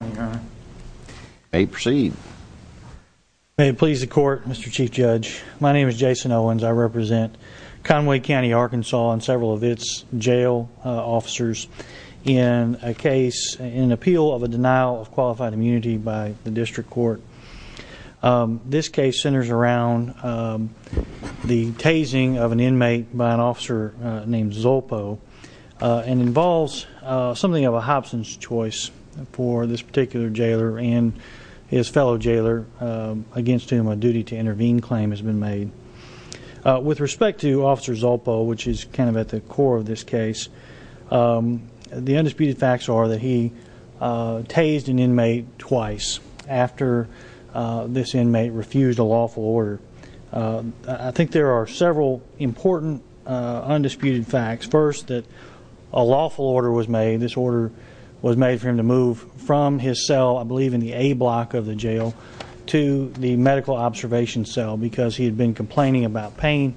May it please the court, Mr. Chief Judge. My name is Jason Owens. I represent Conway County, Arkansas and several of its jail officers in a case in appeal of a denial of qualified immunity by the district court. This case centers around the tasing of an inmate by an officer named Zolpo and involves something of a Hobson's choice for this particular jailer and his fellow jailer against whom a duty to intervene claim has been made. With respect to Officer Zolpo, which is kind of at the core of this case, the undisputed facts are that he tased an inmate twice after this inmate refused a lawful order. I think there are several important undisputed facts. First, that a lawful order was made. This order was made for him to move from his cell, I believe in the A block of the jail, to the medical observation cell because he had been complaining about pain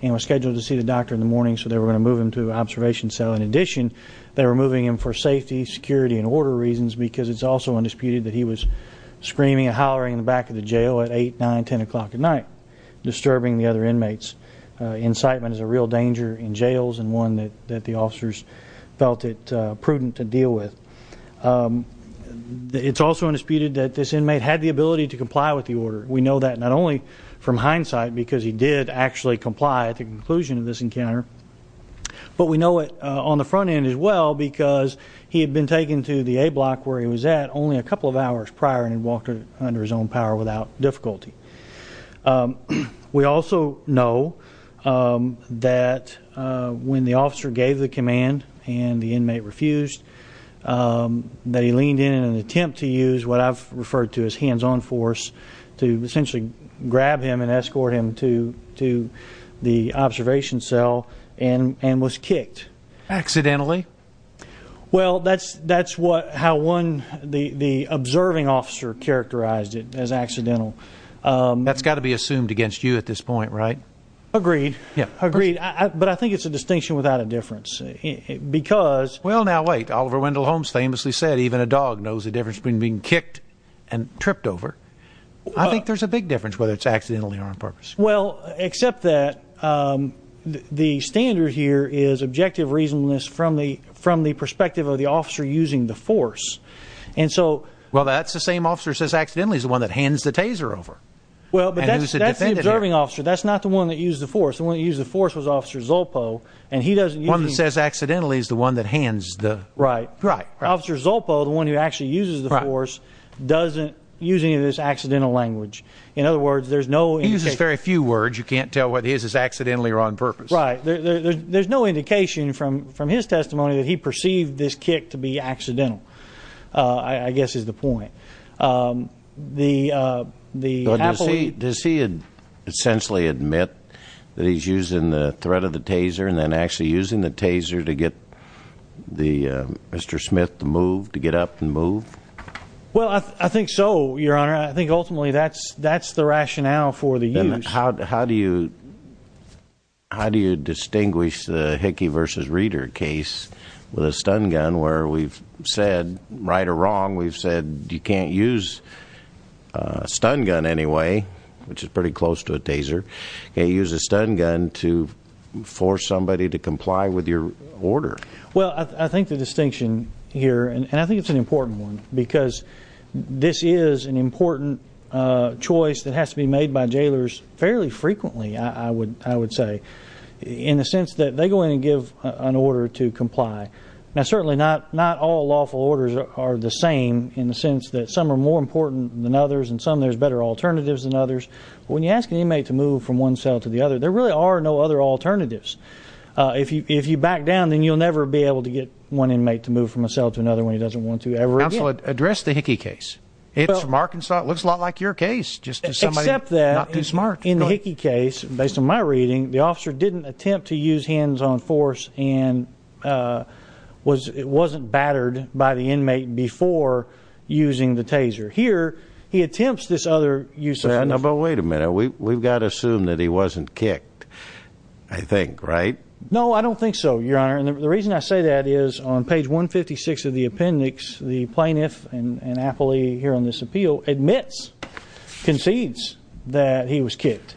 and was scheduled to see the doctor in the morning so they were going to move him to the observation cell. In addition, they were moving him for safety, security and order reasons because it's also undisputed that he was screaming and hollering in the back of the jail at 8, 9, 10 o'clock at night disturbing the other inmates. Incitement is a real danger in jails and one that the officers felt it prudent to deal with. It's also undisputed that this inmate had the ability to comply with the order. We know that not only from hindsight because he did actually comply at the conclusion of this encounter, but we know it on the front end as well because he had been taken to the A block where he was at only a couple of hours prior and walked under his own power without difficulty. We also know that when the officer gave the command and the inmate refused, that he leaned in in an attempt to use what I've referred to as hands-on force to essentially grab him and escort him to the observation cell and was kicked. Accidentally? Well, that's how one, the observing officer characterized it as accidental. That's got to be assumed against you at this point, right? Agreed. Agreed. But I think it's a distinction without a difference because... Well, now wait. Oliver Wendell Holmes famously said, even a dog knows the difference between being kicked and tripped over. I think there's a big difference whether it's accidentally or on purpose. Well, except that the standard here is objective reasonableness from the perspective of the officer using the force. And so... Well, that's the same officer who says accidentally is the one that hands the taser over. Well, but that's the observing officer. That's not the one that used the force. The one that used the force was Officer Zolpo, and he doesn't use... One that says accidentally is the one that hands the... Right. Right. Officer Zolpo, the one who actually uses the force, doesn't use any of this accidental language. In other words, there's no indication... He uses very few words. You can't tell whether he uses accidentally or on purpose. Right. There's no indication from his testimony that he perceived this incidental, I guess is the point. Does he essentially admit that he's using the threat of the taser and then actually using the taser to get Mr. Smith to move, to get up and move? Well, I think so, Your Honor. I think ultimately that's the rationale for the use. Then how do you distinguish the Hickey v. Reeder case with a stun gun, where we've said, right or wrong, we've said you can't use a stun gun anyway, which is pretty close to a taser. You can't use a stun gun to force somebody to comply with your order. Well, I think the distinction here, and I think it's an important one, because this is an important choice that has to be made by jailers fairly frequently, I would say, in the sense that they go in and give an order to comply. Now, certainly not all lawful orders are the same in the sense that some are more important than others and some there's better alternatives than others. But when you ask an inmate to move from one cell to the other, there really are no other alternatives. If you back down, then you'll never be able to get one inmate to move from a cell to another when he doesn't want to ever again. Counsel, address the Hickey case. It's from Arkansas. It looks a lot like your case, just somebody not too smart. Except that in the Hickey case, based on my reading, the officer didn't attempt to use hands-on force and wasn't battered by the inmate before using the taser. Here, he attempts this other use of force. But wait a minute. We've got to assume that he wasn't kicked, I think, right? No, I don't think so, Your Honor. And the reason I say that is, on page 156 of the appendix, the plaintiff, an appellee here on this appeal, admits, concedes, that he was kicked,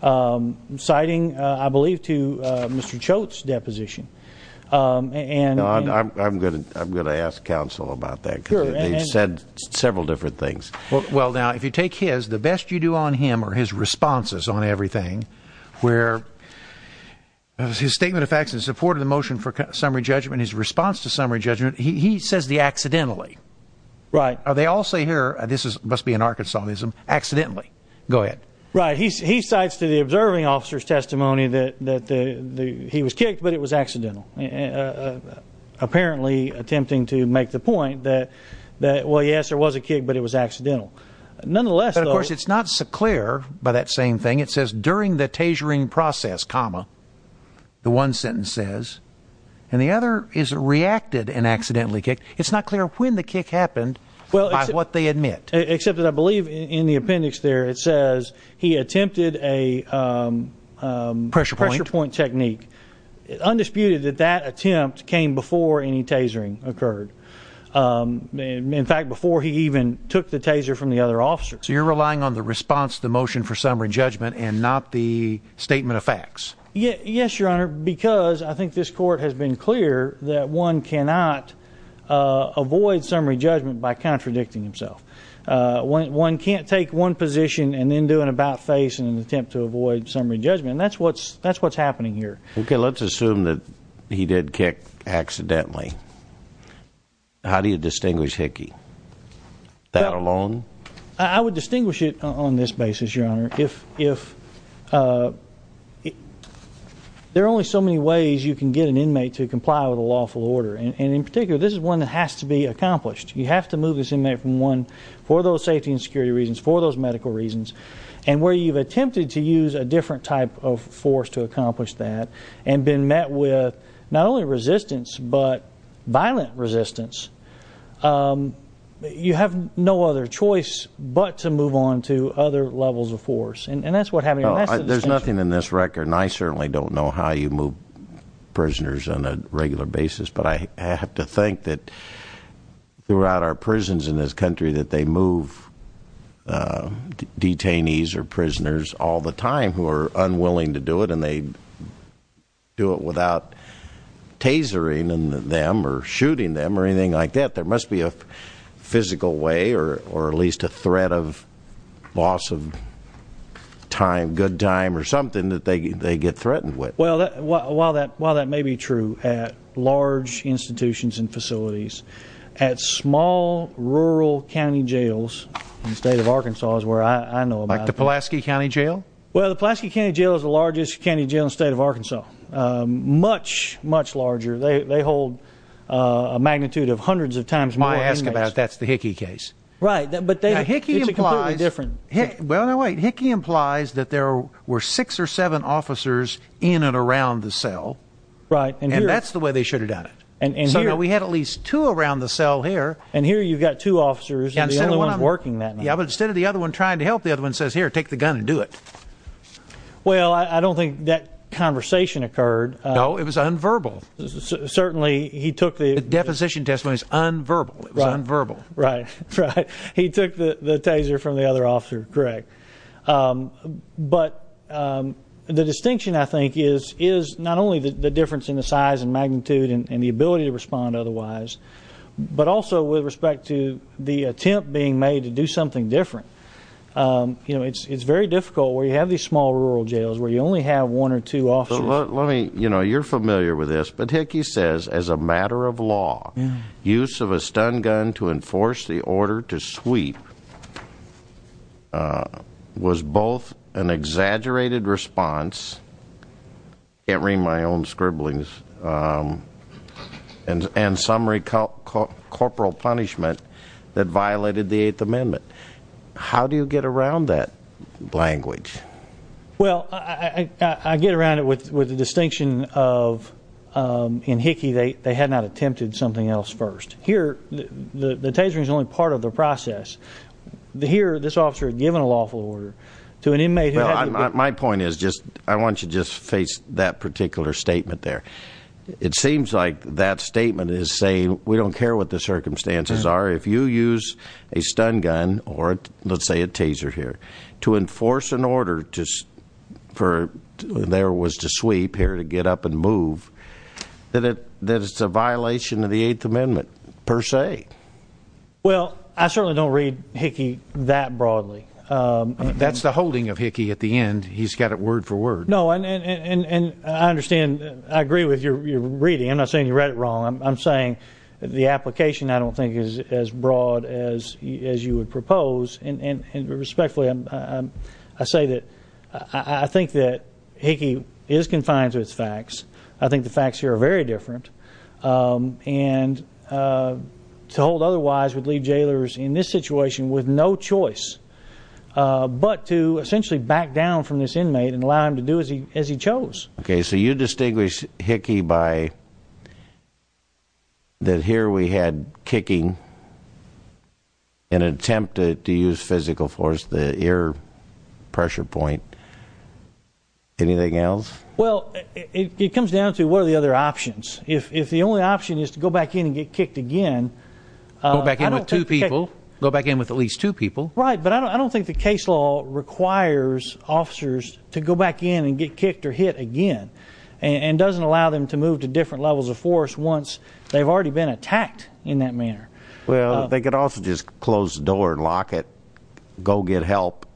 citing, I believe, to Mr. Choate's deposition. I'm going to ask counsel about that, because they've said several different things. Well, now, if you take his, the best you do on him are his responses on everything, where his statement of facts in support of the motion for summary judgment, his response to summary judgment, he says the accidentally. Right. They all say here, this must be an Arkansas-ism, accidentally. Go ahead. Right. He cites to the observing officer's testimony that he was kicked, but it was accidental. Apparently attempting to make the point that, well, yes, there was a kick, but it was accidental. Nonetheless, though... Of course, it's not so clear by that same thing. It says, during the tasering process, comma, the one sentence says, and the other is reacted and accidentally kicked. It's not clear when the kick happened by what they admit. Except that I believe in the appendix there, it says he attempted a pressure point technique. Undisputed that that attempt came before any tasering occurred. In fact, before he even took the taser from the other officer. So you're relying on the response to the motion for summary judgment and not the statement of facts? Yes, your honor, because I think this court has been clear that one cannot avoid summary judgment by contradicting himself. One can't take one position and then do an about face in an attempt to avoid summary judgment. That's what's happening here. Okay, let's assume that he did kick accidentally. How do you distinguish Hickey? That alone? I would distinguish it on this basis, your honor, if there are only so many ways you can get an inmate to comply with a lawful order. And in particular, this is one that has to be accomplished. You have to move this inmate from one for those safety and security reasons, for those medical reasons, and where you've attempted to use a different type of force to accomplish that and been met with not only resistance, but violent resistance. You have no other choice but to move on to other levels of force. And that's what happened. There's nothing in this record. And I certainly don't know how you move prisoners on a regular basis. But I have to think that throughout our prisons in this move detainees or prisoners all the time who are unwilling to do it and they do it without tasering them or shooting them or anything like that. There must be a physical way or at least a threat of loss of time, good time or something that they get threatened with. Well, while that state of Arkansas is where I know about. Like the Pulaski County Jail? Well, the Pulaski County Jail is the largest county jail in the state of Arkansas. Much, much larger. They hold a magnitude of hundreds of times more inmates. That's the Hickey case. Hickey implies that there were six or seven officers in and around the cell. And that's the way they should have done it. So now instead of the other one trying to help, the other one says, here, take the gun and do it. Well, I don't think that conversation occurred. No, it was unverbal. Certainly he took the deposition testimonies unverbal, unverbal. Right. He took the taser from the other officer. Correct. But the distinction, I think, is not only the difference in the size and magnitude and the ability to respond otherwise, but also with respect to the attempt being made to do something different. You know, it's very difficult where you have these small rural jails where you only have one or two officers. Let me, you know, you're familiar with this, but Hickey says, as a matter of law, use of a stun gun to enforce the order to sweep was both an exaggerated response, can't read my own scribblings, and summary corporal punishment that violated the Eighth Amendment. How do you get around that language? Well, I get around it with the distinction of, in Hickey, they had not the process. Here, this officer had given a lawful order to an inmate. Well, my point is just, I want you to just face that particular statement there. It seems like that statement is saying, we don't care what the circumstances are. If you use a stun gun or, let's say, a taser here to enforce an order just for there was to sweep here to get up and move, that it's a violation of the Eighth Amendment per se. Well, I certainly don't read Hickey that broadly. That's the holding of Hickey at the end. He's got it word for word. No, and I understand, I agree with your reading. I'm not saying you read it wrong. I'm saying the application, I don't think, is as broad as you would propose, and respectfully, I say that I think that the facts here are very different, and to hold otherwise would leave jailers in this situation with no choice but to essentially back down from this inmate and allow him to do as he chose. Okay, so you distinguish Hickey by that here we had kicking in an attempt to use physical force, the ear pressure point, anything else? Well, it comes down to what are the other options. If the only option is to go back in and get kicked again. Go back in with two people, go back in with at least two people. Right, but I don't think the case law requires officers to go back in and get kicked or hit again, and doesn't allow them to move to different levels of force once they've already been attacked in that manner. Well, they could also just close the door and lock it, go get help,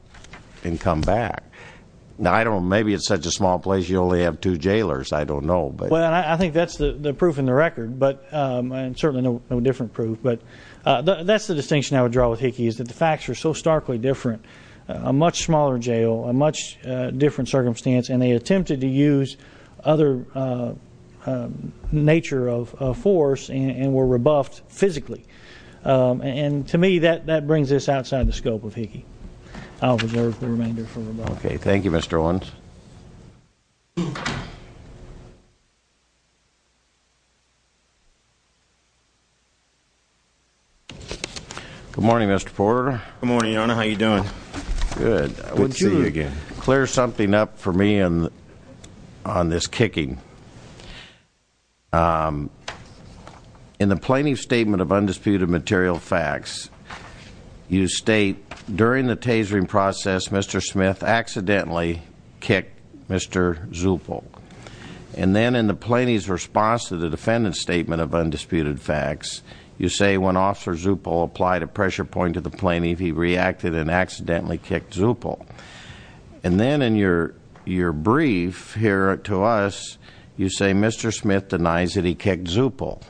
and come back. Now, I don't know, maybe it's such a small place you only have two jailers. I don't know. Well, I think that's the proof in the record, and certainly no different proof, but that's the distinction I would draw with Hickey is that the facts are so starkly different. A much smaller jail, a much different circumstance, and they attempted to use other nature of force and were rebuffed physically, and to me that brings this outside the scope of Hickey. I'll reserve the remainder for rebuttal. Okay, thank you, Mr. Owens. Good morning, Mr. Porter. Good morning, Your Honor. How are you doing? Good. Good to see you again. Could you clear something up for me on this kicking? In the plaintiff's statement of undisputed material facts, you state during the tasering process, Mr. Smith accidentally kicked Mr. Zuppel, and then in the plaintiff's response to the defendant's statement of undisputed facts, you say when Officer Zuppel applied a pressure point to the plaintiff, he reacted and accidentally kicked Zuppel, and then in your brief here to us, you say Mr. Smith denies that he kicked Zuppel.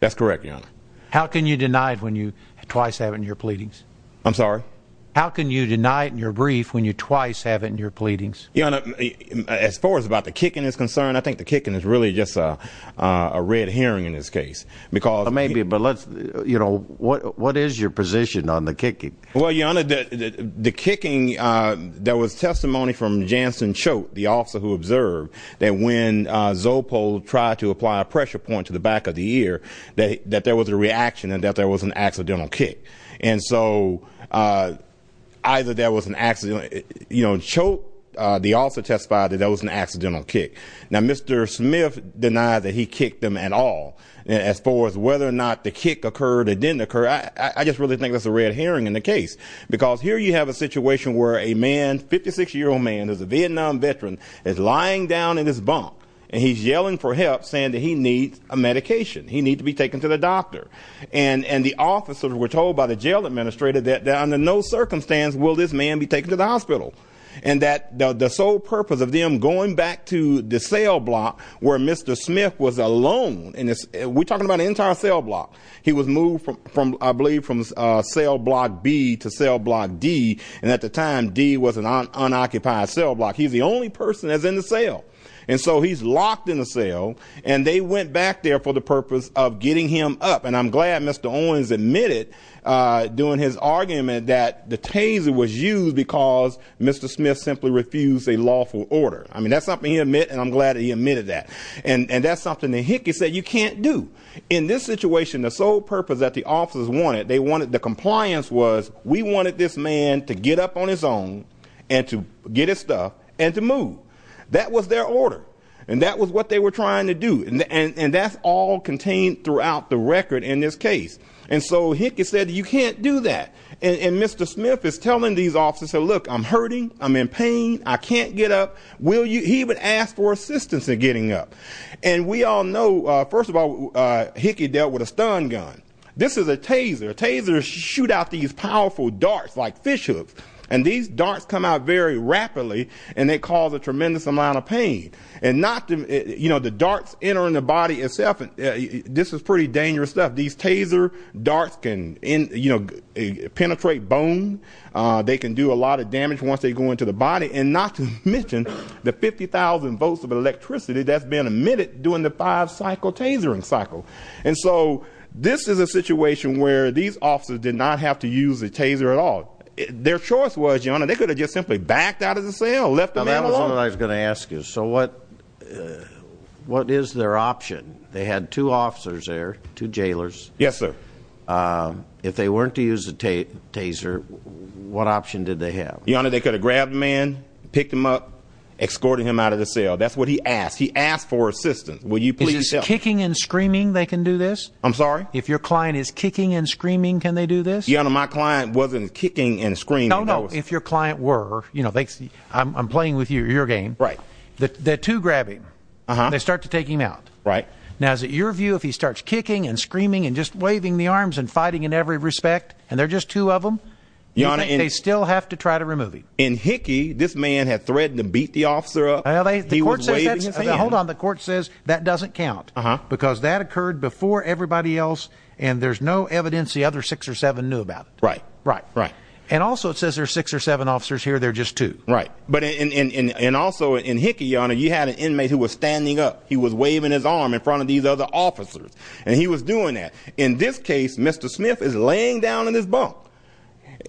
That's correct, Your Honor. How can you deny it when you twice have it in your pleadings? I'm sorry? How can you deny it in your brief when you twice have it in your pleadings? Your Honor, as far as about the kicking is concerned, I think the kicking is really just a red herring in this case, because maybe, but let's, you know, what is your position on the kicking? Well, Your Honor, the kicking, there was testimony from Jansen Choate, the officer who observed that when Zuppel tried to apply a pressure point to the back of the ear, that there was a reaction and that there was an accidental kick. And so either there was an accident, you know, Choate, the officer testified that there the kick occurred, it didn't occur. I just really think that's a red herring in the case, because here you have a situation where a man, 56-year-old man, who's a Vietnam veteran, is lying down in his bunk and he's yelling for help saying that he needs a medication, he needs to be taken to the doctor. And the officers were told by the jail administrator that under no circumstance will this man be taken to the hospital. And that the sole purpose of them going back to the cell block where Mr. Smith was alone, and we're talking about the entire cell block, he was moved from, I believe, from cell block B to cell block D, and at the time D was an unoccupied cell block. He's the only person that's in the cell. And so he's locked in the cell, and they went back there for the purpose of getting him up. And I'm glad Mr. Owens admitted during his argument that the taser was used because Mr. Smith simply refused a lawful order. I mean, that's something he admit, and I'm glad that he admitted that. And that's something that Hickey said, you can't do. In this situation, the sole purpose that the officers wanted, they wanted, the compliance was, we wanted this man to get up on his own and to get his stuff and to move. That was their order. And that was what they were trying to do. And that's all contained throughout the record in this case. And so Hickey said, you can't do that. And Mr. Smith is telling these officers, so look, I'm hurting. I'm in pain. I can't get up. He would ask for assistance in getting up. And we all know, first of all, Hickey dealt with a stun gun. This is a taser. Tasers shoot out these powerful darts like fish hooks, and these darts come out very rapidly, and they cause a tremendous amount of pain. And not to, you know, the darts entering the body itself, this is pretty dangerous stuff. These taser darts can, you know, penetrate bone. They can do a lot of damage once they go into the body. And not to mention the 50,000 volts of electricity that's been emitted during the five cycle tasering cycle. And so this is a situation where these officers did not have to use a taser at all. Their choice was, Your Honor, they could have just simply backed out of the cell, left the man alone. I was going to ask you, so what is their option? They had two officers there, two jailers. Yes, sir. If they weren't to use a taser, what option did they have? Your Honor, they could have grabbed the man, picked him up, escorted him out of the cell. That's what he asked. He asked for assistance. Will you please tell me? Is this kicking and screaming they can do this? I'm sorry? If your client is kicking and screaming, can they do this? Your Honor, my client wasn't kicking and screaming. If your client were, I'm playing with you, your game. The two grab him, they start to take him out. Now, is it your view if he starts kicking and screaming and just waving the arms and fighting in every respect, and they're just two of them, they still have to try to remove him? In Hickey, this man had threatened to beat the officer up. Hold on. The court says that doesn't count because that occurred before everybody else and there's no evidence the other six or seven knew about it. Right. Right. And also it says there's six or seven officers here, they're just two. Right. But also in Hickey, your Honor, you had an inmate who was standing up. He was waving his arm in front of these other officers and he was doing that. In this case, Mr. Smith is laying down in his bunk.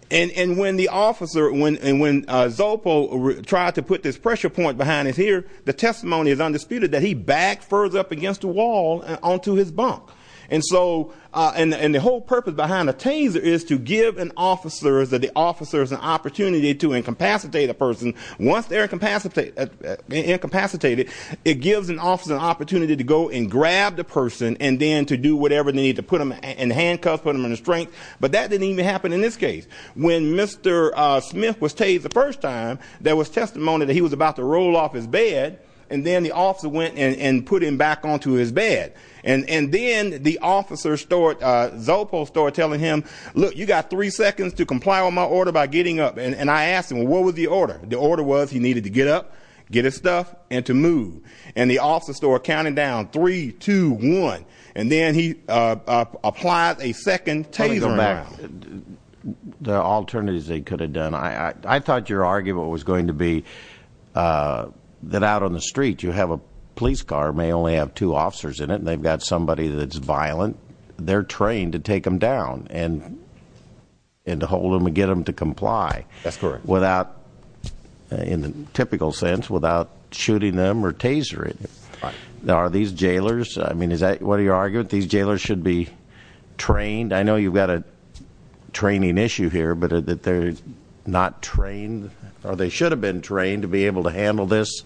And when the officer, when Zopo tried to put this pressure point behind his ear, the testimony is undisputed that he backed further up against the wall onto his bunk. And so, and the whole purpose behind a taser is to give an officer, the officers, an opportunity to incapacitate a person. Once they're incapacitated, it gives an officer an opportunity to go and grab the person and then to do whatever they need to put them in handcuffs, put them in a strength. But that didn't even happen in this case. When Mr. Smith was tased the first time, there was testimony that he was about to roll off his bed and then the officer went and put him back onto his bed. And then the officer, Zopo, started telling him, look, you got three seconds to comply on my order by getting up. And I asked him, well, what was the order? The order was he needed to get up, get his stuff and to move. And the officer started counting down, three, two, one. And then he applied a second taser. The alternatives they could have done. I thought your argument was going to be that out on the street you have a police car, may only have two officers in it, and they've got somebody that's violent. They're trained to take them down and to hold them and get them to comply. That's correct. Without, in the typical sense, without shooting them or tasering. Are these jailers, I mean, is that what your argument? These jailers should be trained? I know you've got a training issue here, but that they're not trained or they should have been trained to be able to handle this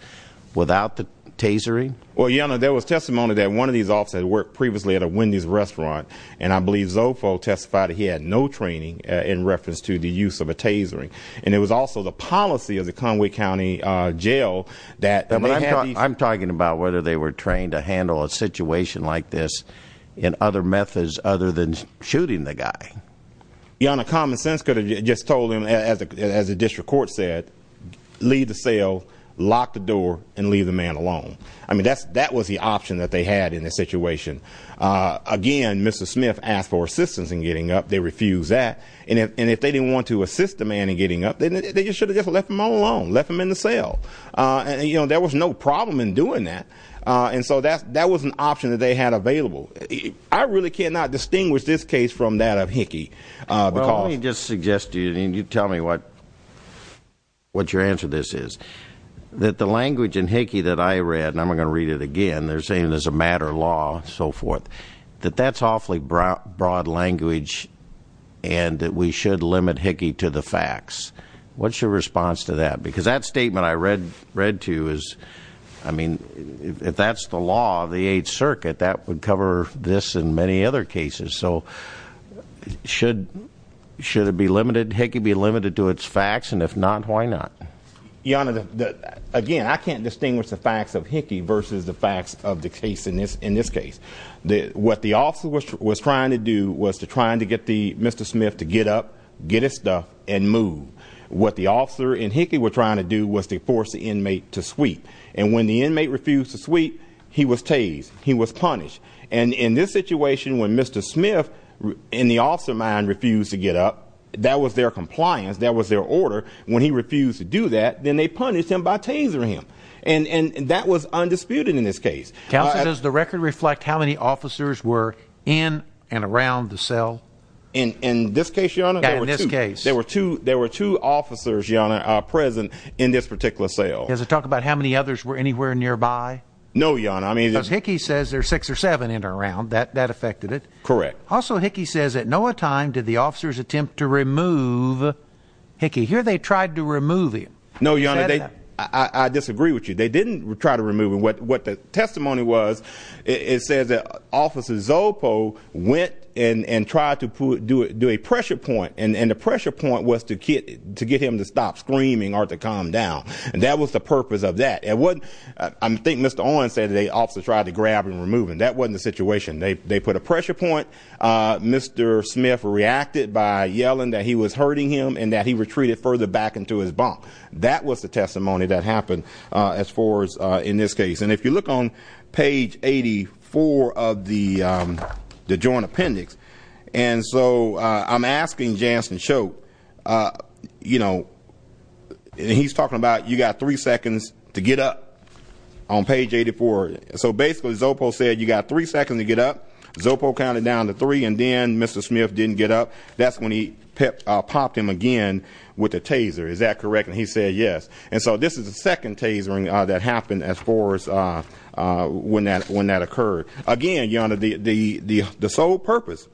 without the tasering? Well, your honor, there was testimony that one of these officers had worked previously at a Wendy's restaurant. And I believe Zopo testified he had no training in reference to the use of a tasering. And it was also the policy of the Conway County Jail that. I'm talking about whether they were trained to handle a situation like this in other methods other than shooting the guy. Your honor, common sense could have just told as the district court said, leave the cell, lock the door and leave the man alone. I mean, that was the option that they had in this situation. Again, Mr. Smith asked for assistance in getting up. They refused that. And if they didn't want to assist the man in getting up, they should have just left him all alone, left him in the cell. And, you know, there was no problem in doing that. And so that was an option that they had available. I really cannot distinguish this case from that of Hickey because he just suggested and you tell me what what your answer this is, that the language in Hickey that I read and I'm going to read it again, they're saying there's a matter of law, so forth, that that's awfully broad, broad language and that we should limit Hickey to the facts. What's your response to that? Because that statement I read, read to us. I mean, if that's the law of the Eighth Circuit, that would cover this and many other cases. So should should it be limited? Hickey be limited to its facts. And if not, why not? Your Honor, again, I can't distinguish the facts of Hickey versus the facts of the case in this in this case. What the officer was trying to do was to trying to get the Mr. Smith to get up, get his stuff and move. What the officer in Hickey were trying to do was to force the inmate to sweep. And when the inmate refused to sweep, he was tased, he was punished. And in this situation, when Mr. Smith in the officer mind refused to get up, that was their compliance. That was their order. When he refused to do that, then they punished him by tasing him. And that was undisputed in this case. Counsel, does the record reflect how many officers were in and around the cell? In this case, Your Honor, in this case, there were two there were two officers present in this particular cell. Does it talk about how many others were anywhere nearby? No, Your Honor. I mean, Hickey says there are six or seven in around that that affected it. Correct. Also, Hickey says at no time did the officers attempt to remove Hickey here. They tried to remove him. No, Your Honor. I disagree with you. They didn't try to remove him. What the testimony was, it says that Officer Zopo went in and tried to do it, do a pressure point. And that was the purpose of that. And what I think Mr. Owens said, they also tried to grab and remove him. That wasn't the situation. They put a pressure point. Mr. Smith reacted by yelling that he was hurting him and that he retreated further back into his bunk. That was the testimony that happened as far as in this case. And if you look on page 84 of the joint appendix, and so I'm asking Jansen Shope, you know, he's talking about you got three seconds to get up on page 84. So basically, Zopo said you got three seconds to get up. Zopo counted down to three and then Mr. Smith didn't get up. That's when he popped him again with a taser. Is that correct? And he said yes. And so this is the second tasering that happened as far as when that occurred. Again, Your Honor, the sole purpose,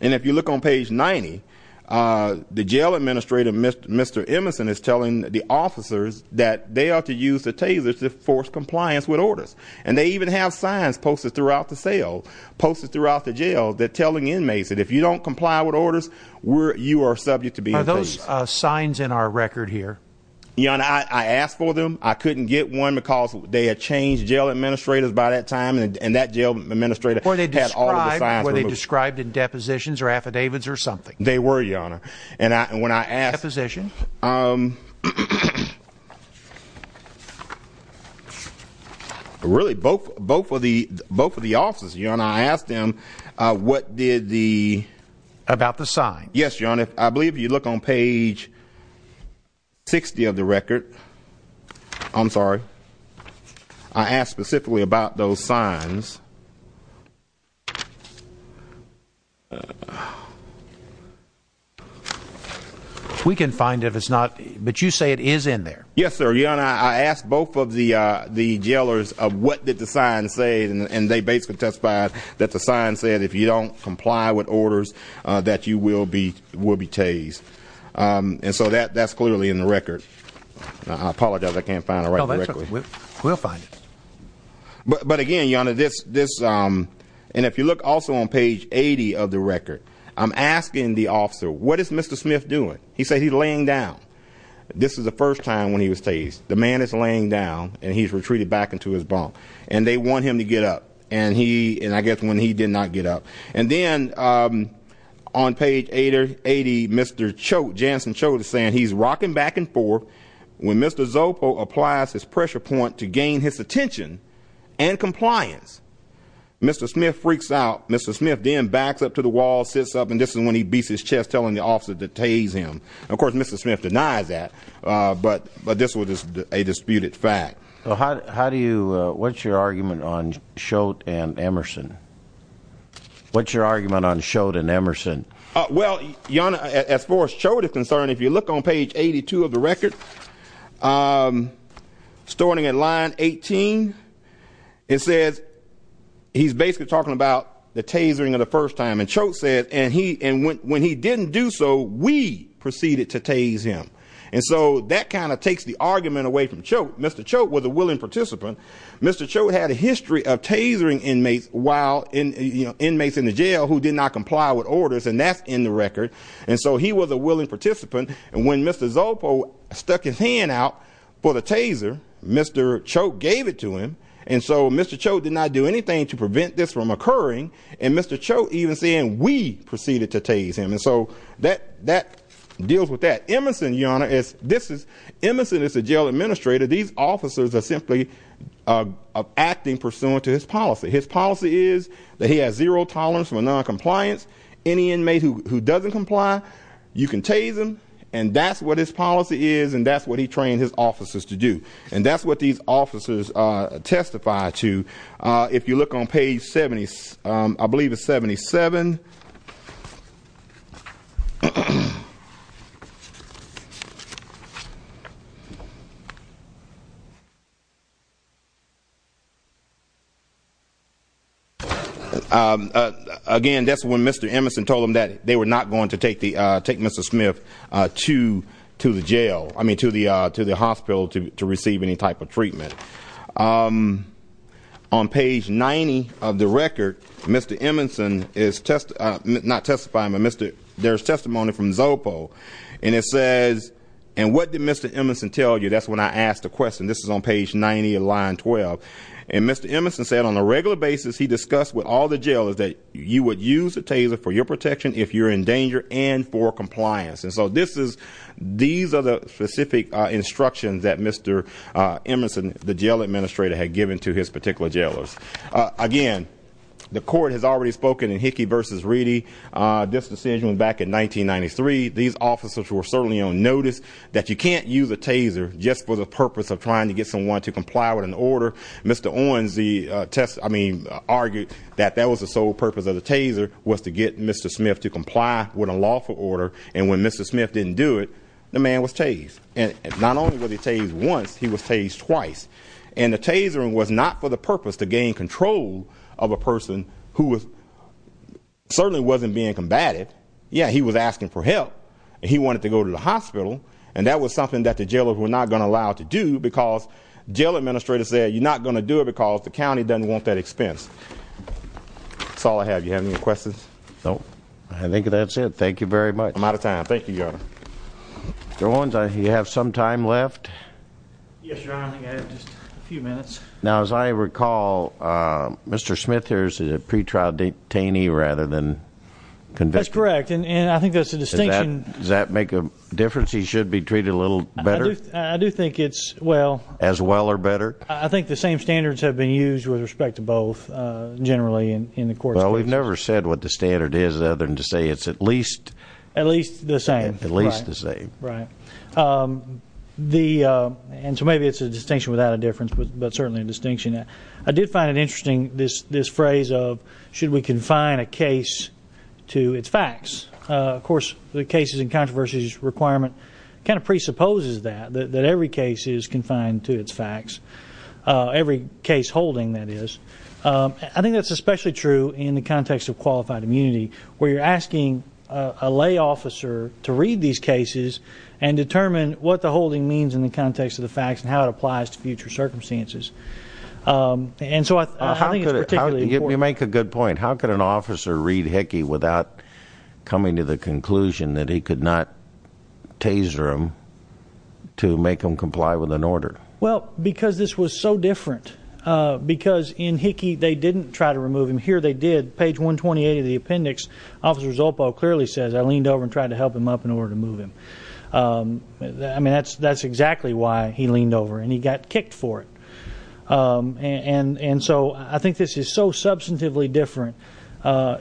and if you look on page 90, the jail administrator, Mr. Emerson, is telling the officers that they ought to use the tasers to force compliance with orders. And they even have signs posted throughout the cell, posted throughout the jail, that telling inmates that if you don't comply with orders, you are subject to be imprisoned. Are those signs in our record here? Your Honor, I asked for them. I couldn't get one because they had changed jail administrators by that time and that jail administrator had all the signs removed. Were they described in depositions or affidavits or something? They were, Your Honor. And when I asked... Deposition? Really, both of the officers, Your Honor, I asked them what did the... About the sign? Yes, Your Honor. I believe if you look on page 60 of the record, I'm sorry, I asked specifically about those signs. We can find if it's not, but you say it is in there. Yes, sir. Your Honor, I asked both of the jailers what did the sign say and they basically testified that the sign said if you don't comply with orders, that you will be tased. And so that's clearly in the record. I apologize, I can't find it right now. We'll find it. But again, Your Honor, this... And if you look also on page 80 of the record, I'm asking the officer, what is Mr. Smith doing? He said he's laying down. This is the first time when he was tased. The man is laying down and he's retreated back into his bunk. And they want him to get up. And he... And I guess when he did not get up. And then on page 80, Mr. Chote, Jansen Chote is saying he's rocking back and forth when Mr. Zopo applies his pressure point to gain his attention and compliance. Mr. Smith freaks out. Mr. Smith then backs up to the wall, sits up, and this is when he beats his chest telling the officer to tase him. Of course, Mr. Smith denies that, but this was a disputed fact. So how do you... What's your argument on Chote and Emerson? What's your argument on Chote and Emerson? Well, Your Honor, as far as Chote is concerned, if you look on page 82 of the record, starting at line 18, it says he's basically talking about the tasering of the first time. And Chote said... And when he didn't do so, we proceeded to tase him. And so that kind of takes the argument away from Chote. Mr. Chote was a willing participant. Mr. Chote had a history of tasering inmates while... Inmates in the jail who did not comply with orders, and that's in the record. And so he was a willing participant. And when Mr. Zopo stuck his hand out for the taser, Mr. Chote gave it to him. And so Mr. Chote did not do anything to prevent this from occurring. And Mr. Chote even saying, we proceeded to tase him. And so that deals with that. Emerson, Your Honor, Emerson is a jail administrator. These officers are simply acting pursuant to his policy. His policy is that he has zero tolerance for noncompliance. Any inmate who doesn't comply, you can tase him. And that's what his policy is, and that's what he trained his officers to do. And that's what these officers testify to. If you look on page 70, I believe it's 77. Again, that's when Mr. Emerson told them that they were not going to take Mr. Smith to the jail, I mean, to the hospital to receive any type of treatment. On page 90 of the record, Mr. Emerson is testifying, not testifying, but there's testimony from Zopo. And it says, and what did Mr. Emerson tell you? That's when I asked the question. This is on page 90 of line 12. And Mr. Emerson said on a regular basis, he discussed with all the jailers that you would use a taser for your protection if you're in danger and for compliance. And so these are the specific instructions that Mr. Emerson, the jail administrator, had given to his particular jailers. Again, the court has already spoken in Hickey v. Reedy. This decision was back in 1993. These officers were certainly on notice that you can't use a taser just for the purpose of trying to get someone to comply with an order. Mr. Owens argued that that was the sole purpose of the taser, was to get Mr. Smith to comply with a lawful order. And when Mr. Smith didn't do it, the man was tased. And not only was he tased once, he was tased twice. And the taser was not for the purpose to gain control of a person who certainly wasn't being combated. Yeah, he was asking for help. He wanted to go to the hospital. And that was something that the jailers were not going to allow to do because jail administrators said, you're not going to do it because the county doesn't want that expense. That's all I have. You have any questions? No. I think that's it. Thank you very much. I'm out of time. Thank you, Your Honor. Mr. Owens, you have some time left? Yes, Your Honor. I think I have just a few minutes. Now, as I recall, Mr. Smith here is a pretrial detainee rather than convict. That's correct. And I think that's the distinction. Does that make a difference? He should be treated a little better? I do think it's well. As well or better? I think the same standards have been used with respect to both, generally, in the court. Well, we've never said what the standard is other than to say it's at least the same. At least the same. Right. And so maybe it's a distinction without a difference, but certainly a distinction. I did find it interesting, this phrase of, should we confine a case to its facts? Of course, the cases and controversies requirement kind of presupposes that, that every case is confined to its facts. Every case holding, that is. I think that's especially true in the context of qualified immunity, where you're asking a lay officer to read these cases and determine what the holding means in the context of the facts and how it applies to future circumstances. And so I think it's particularly important. You make a good point. How could an officer read Hickey without coming to the conclusion that he could not taser him to make him comply with an order? Well, because this was so different. Because in Hickey, they didn't try to remove him. Here they did. Page 128 of the appendix, Officer Zolpo clearly says, I leaned over and tried to help him up in order to move him. I mean, that's exactly why he leaned over and he got kicked for it. And so I think this is so substantively different.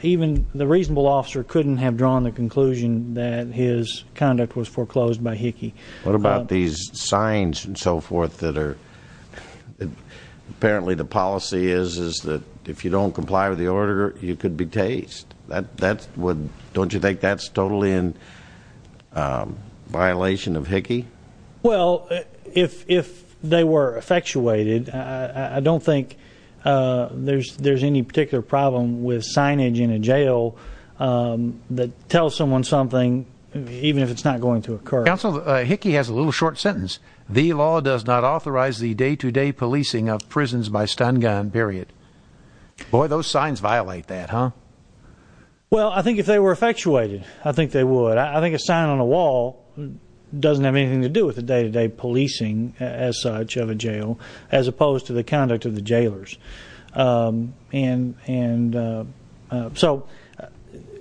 Even the reasonable officer couldn't have drawn the conclusion that his conduct was foreclosed by Hickey. What about these signs and so forth that are, apparently the policy is that if you don't comply with the order, you could be tased. Don't you think that's totally in violation of Hickey? Well, if they were effectuated, I don't think there's any particular problem with signage in a jail that tells someone something, even if it's not going to occur. Hickey has a little short sentence. The law does not authorize the day-to-day policing of prisons by stun gun, period. Boy, those signs violate that, huh? Well, I think if they were effectuated, I think they would. I think a sign on a wall doesn't have anything to do with the day-to-day policing as such of a jail, as opposed to the conduct of the jailers. And so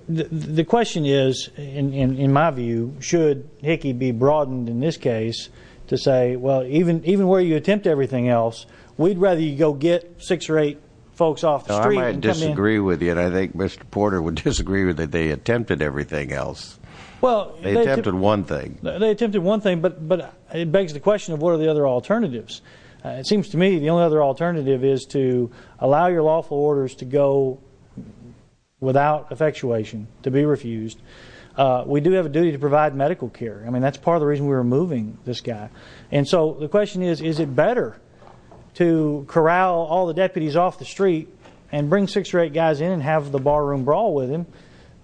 the question is, in my view, should Hickey be broadened in this case to say, well, even where you attempt everything else, we'd rather you go get six or eight folks off the street and come in. Now, I might disagree with you, and I think Mr. Porter would disagree with you that they attempted everything else. Well, they attempted one thing. They attempted one thing, but it begs the question of what are the other alternatives? It seems to me the only other alternative is to allow your lawful orders to go without effectuation, to be refused. We do have a duty to provide medical care. I mean, that's part of the reason we were moving this guy. And so the question is, is it better to corral all the deputies off the street and bring six or eight guys in and have the barroom brawl with him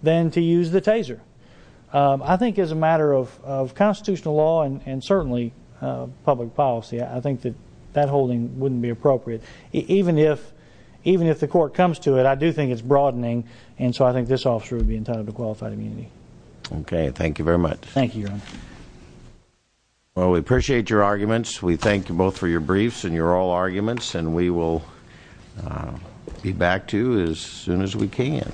than to use the taser? I think as a matter of constitutional law and certainly public policy, that holding wouldn't be appropriate. Even if the court comes to it, I do think it's broadening. And so I think this officer would be entitled to qualified immunity. Okay. Thank you very much. Thank you, Your Honor. Well, we appreciate your arguments. We thank you both for your briefs and your oral arguments. And we will be back to you as soon as we can.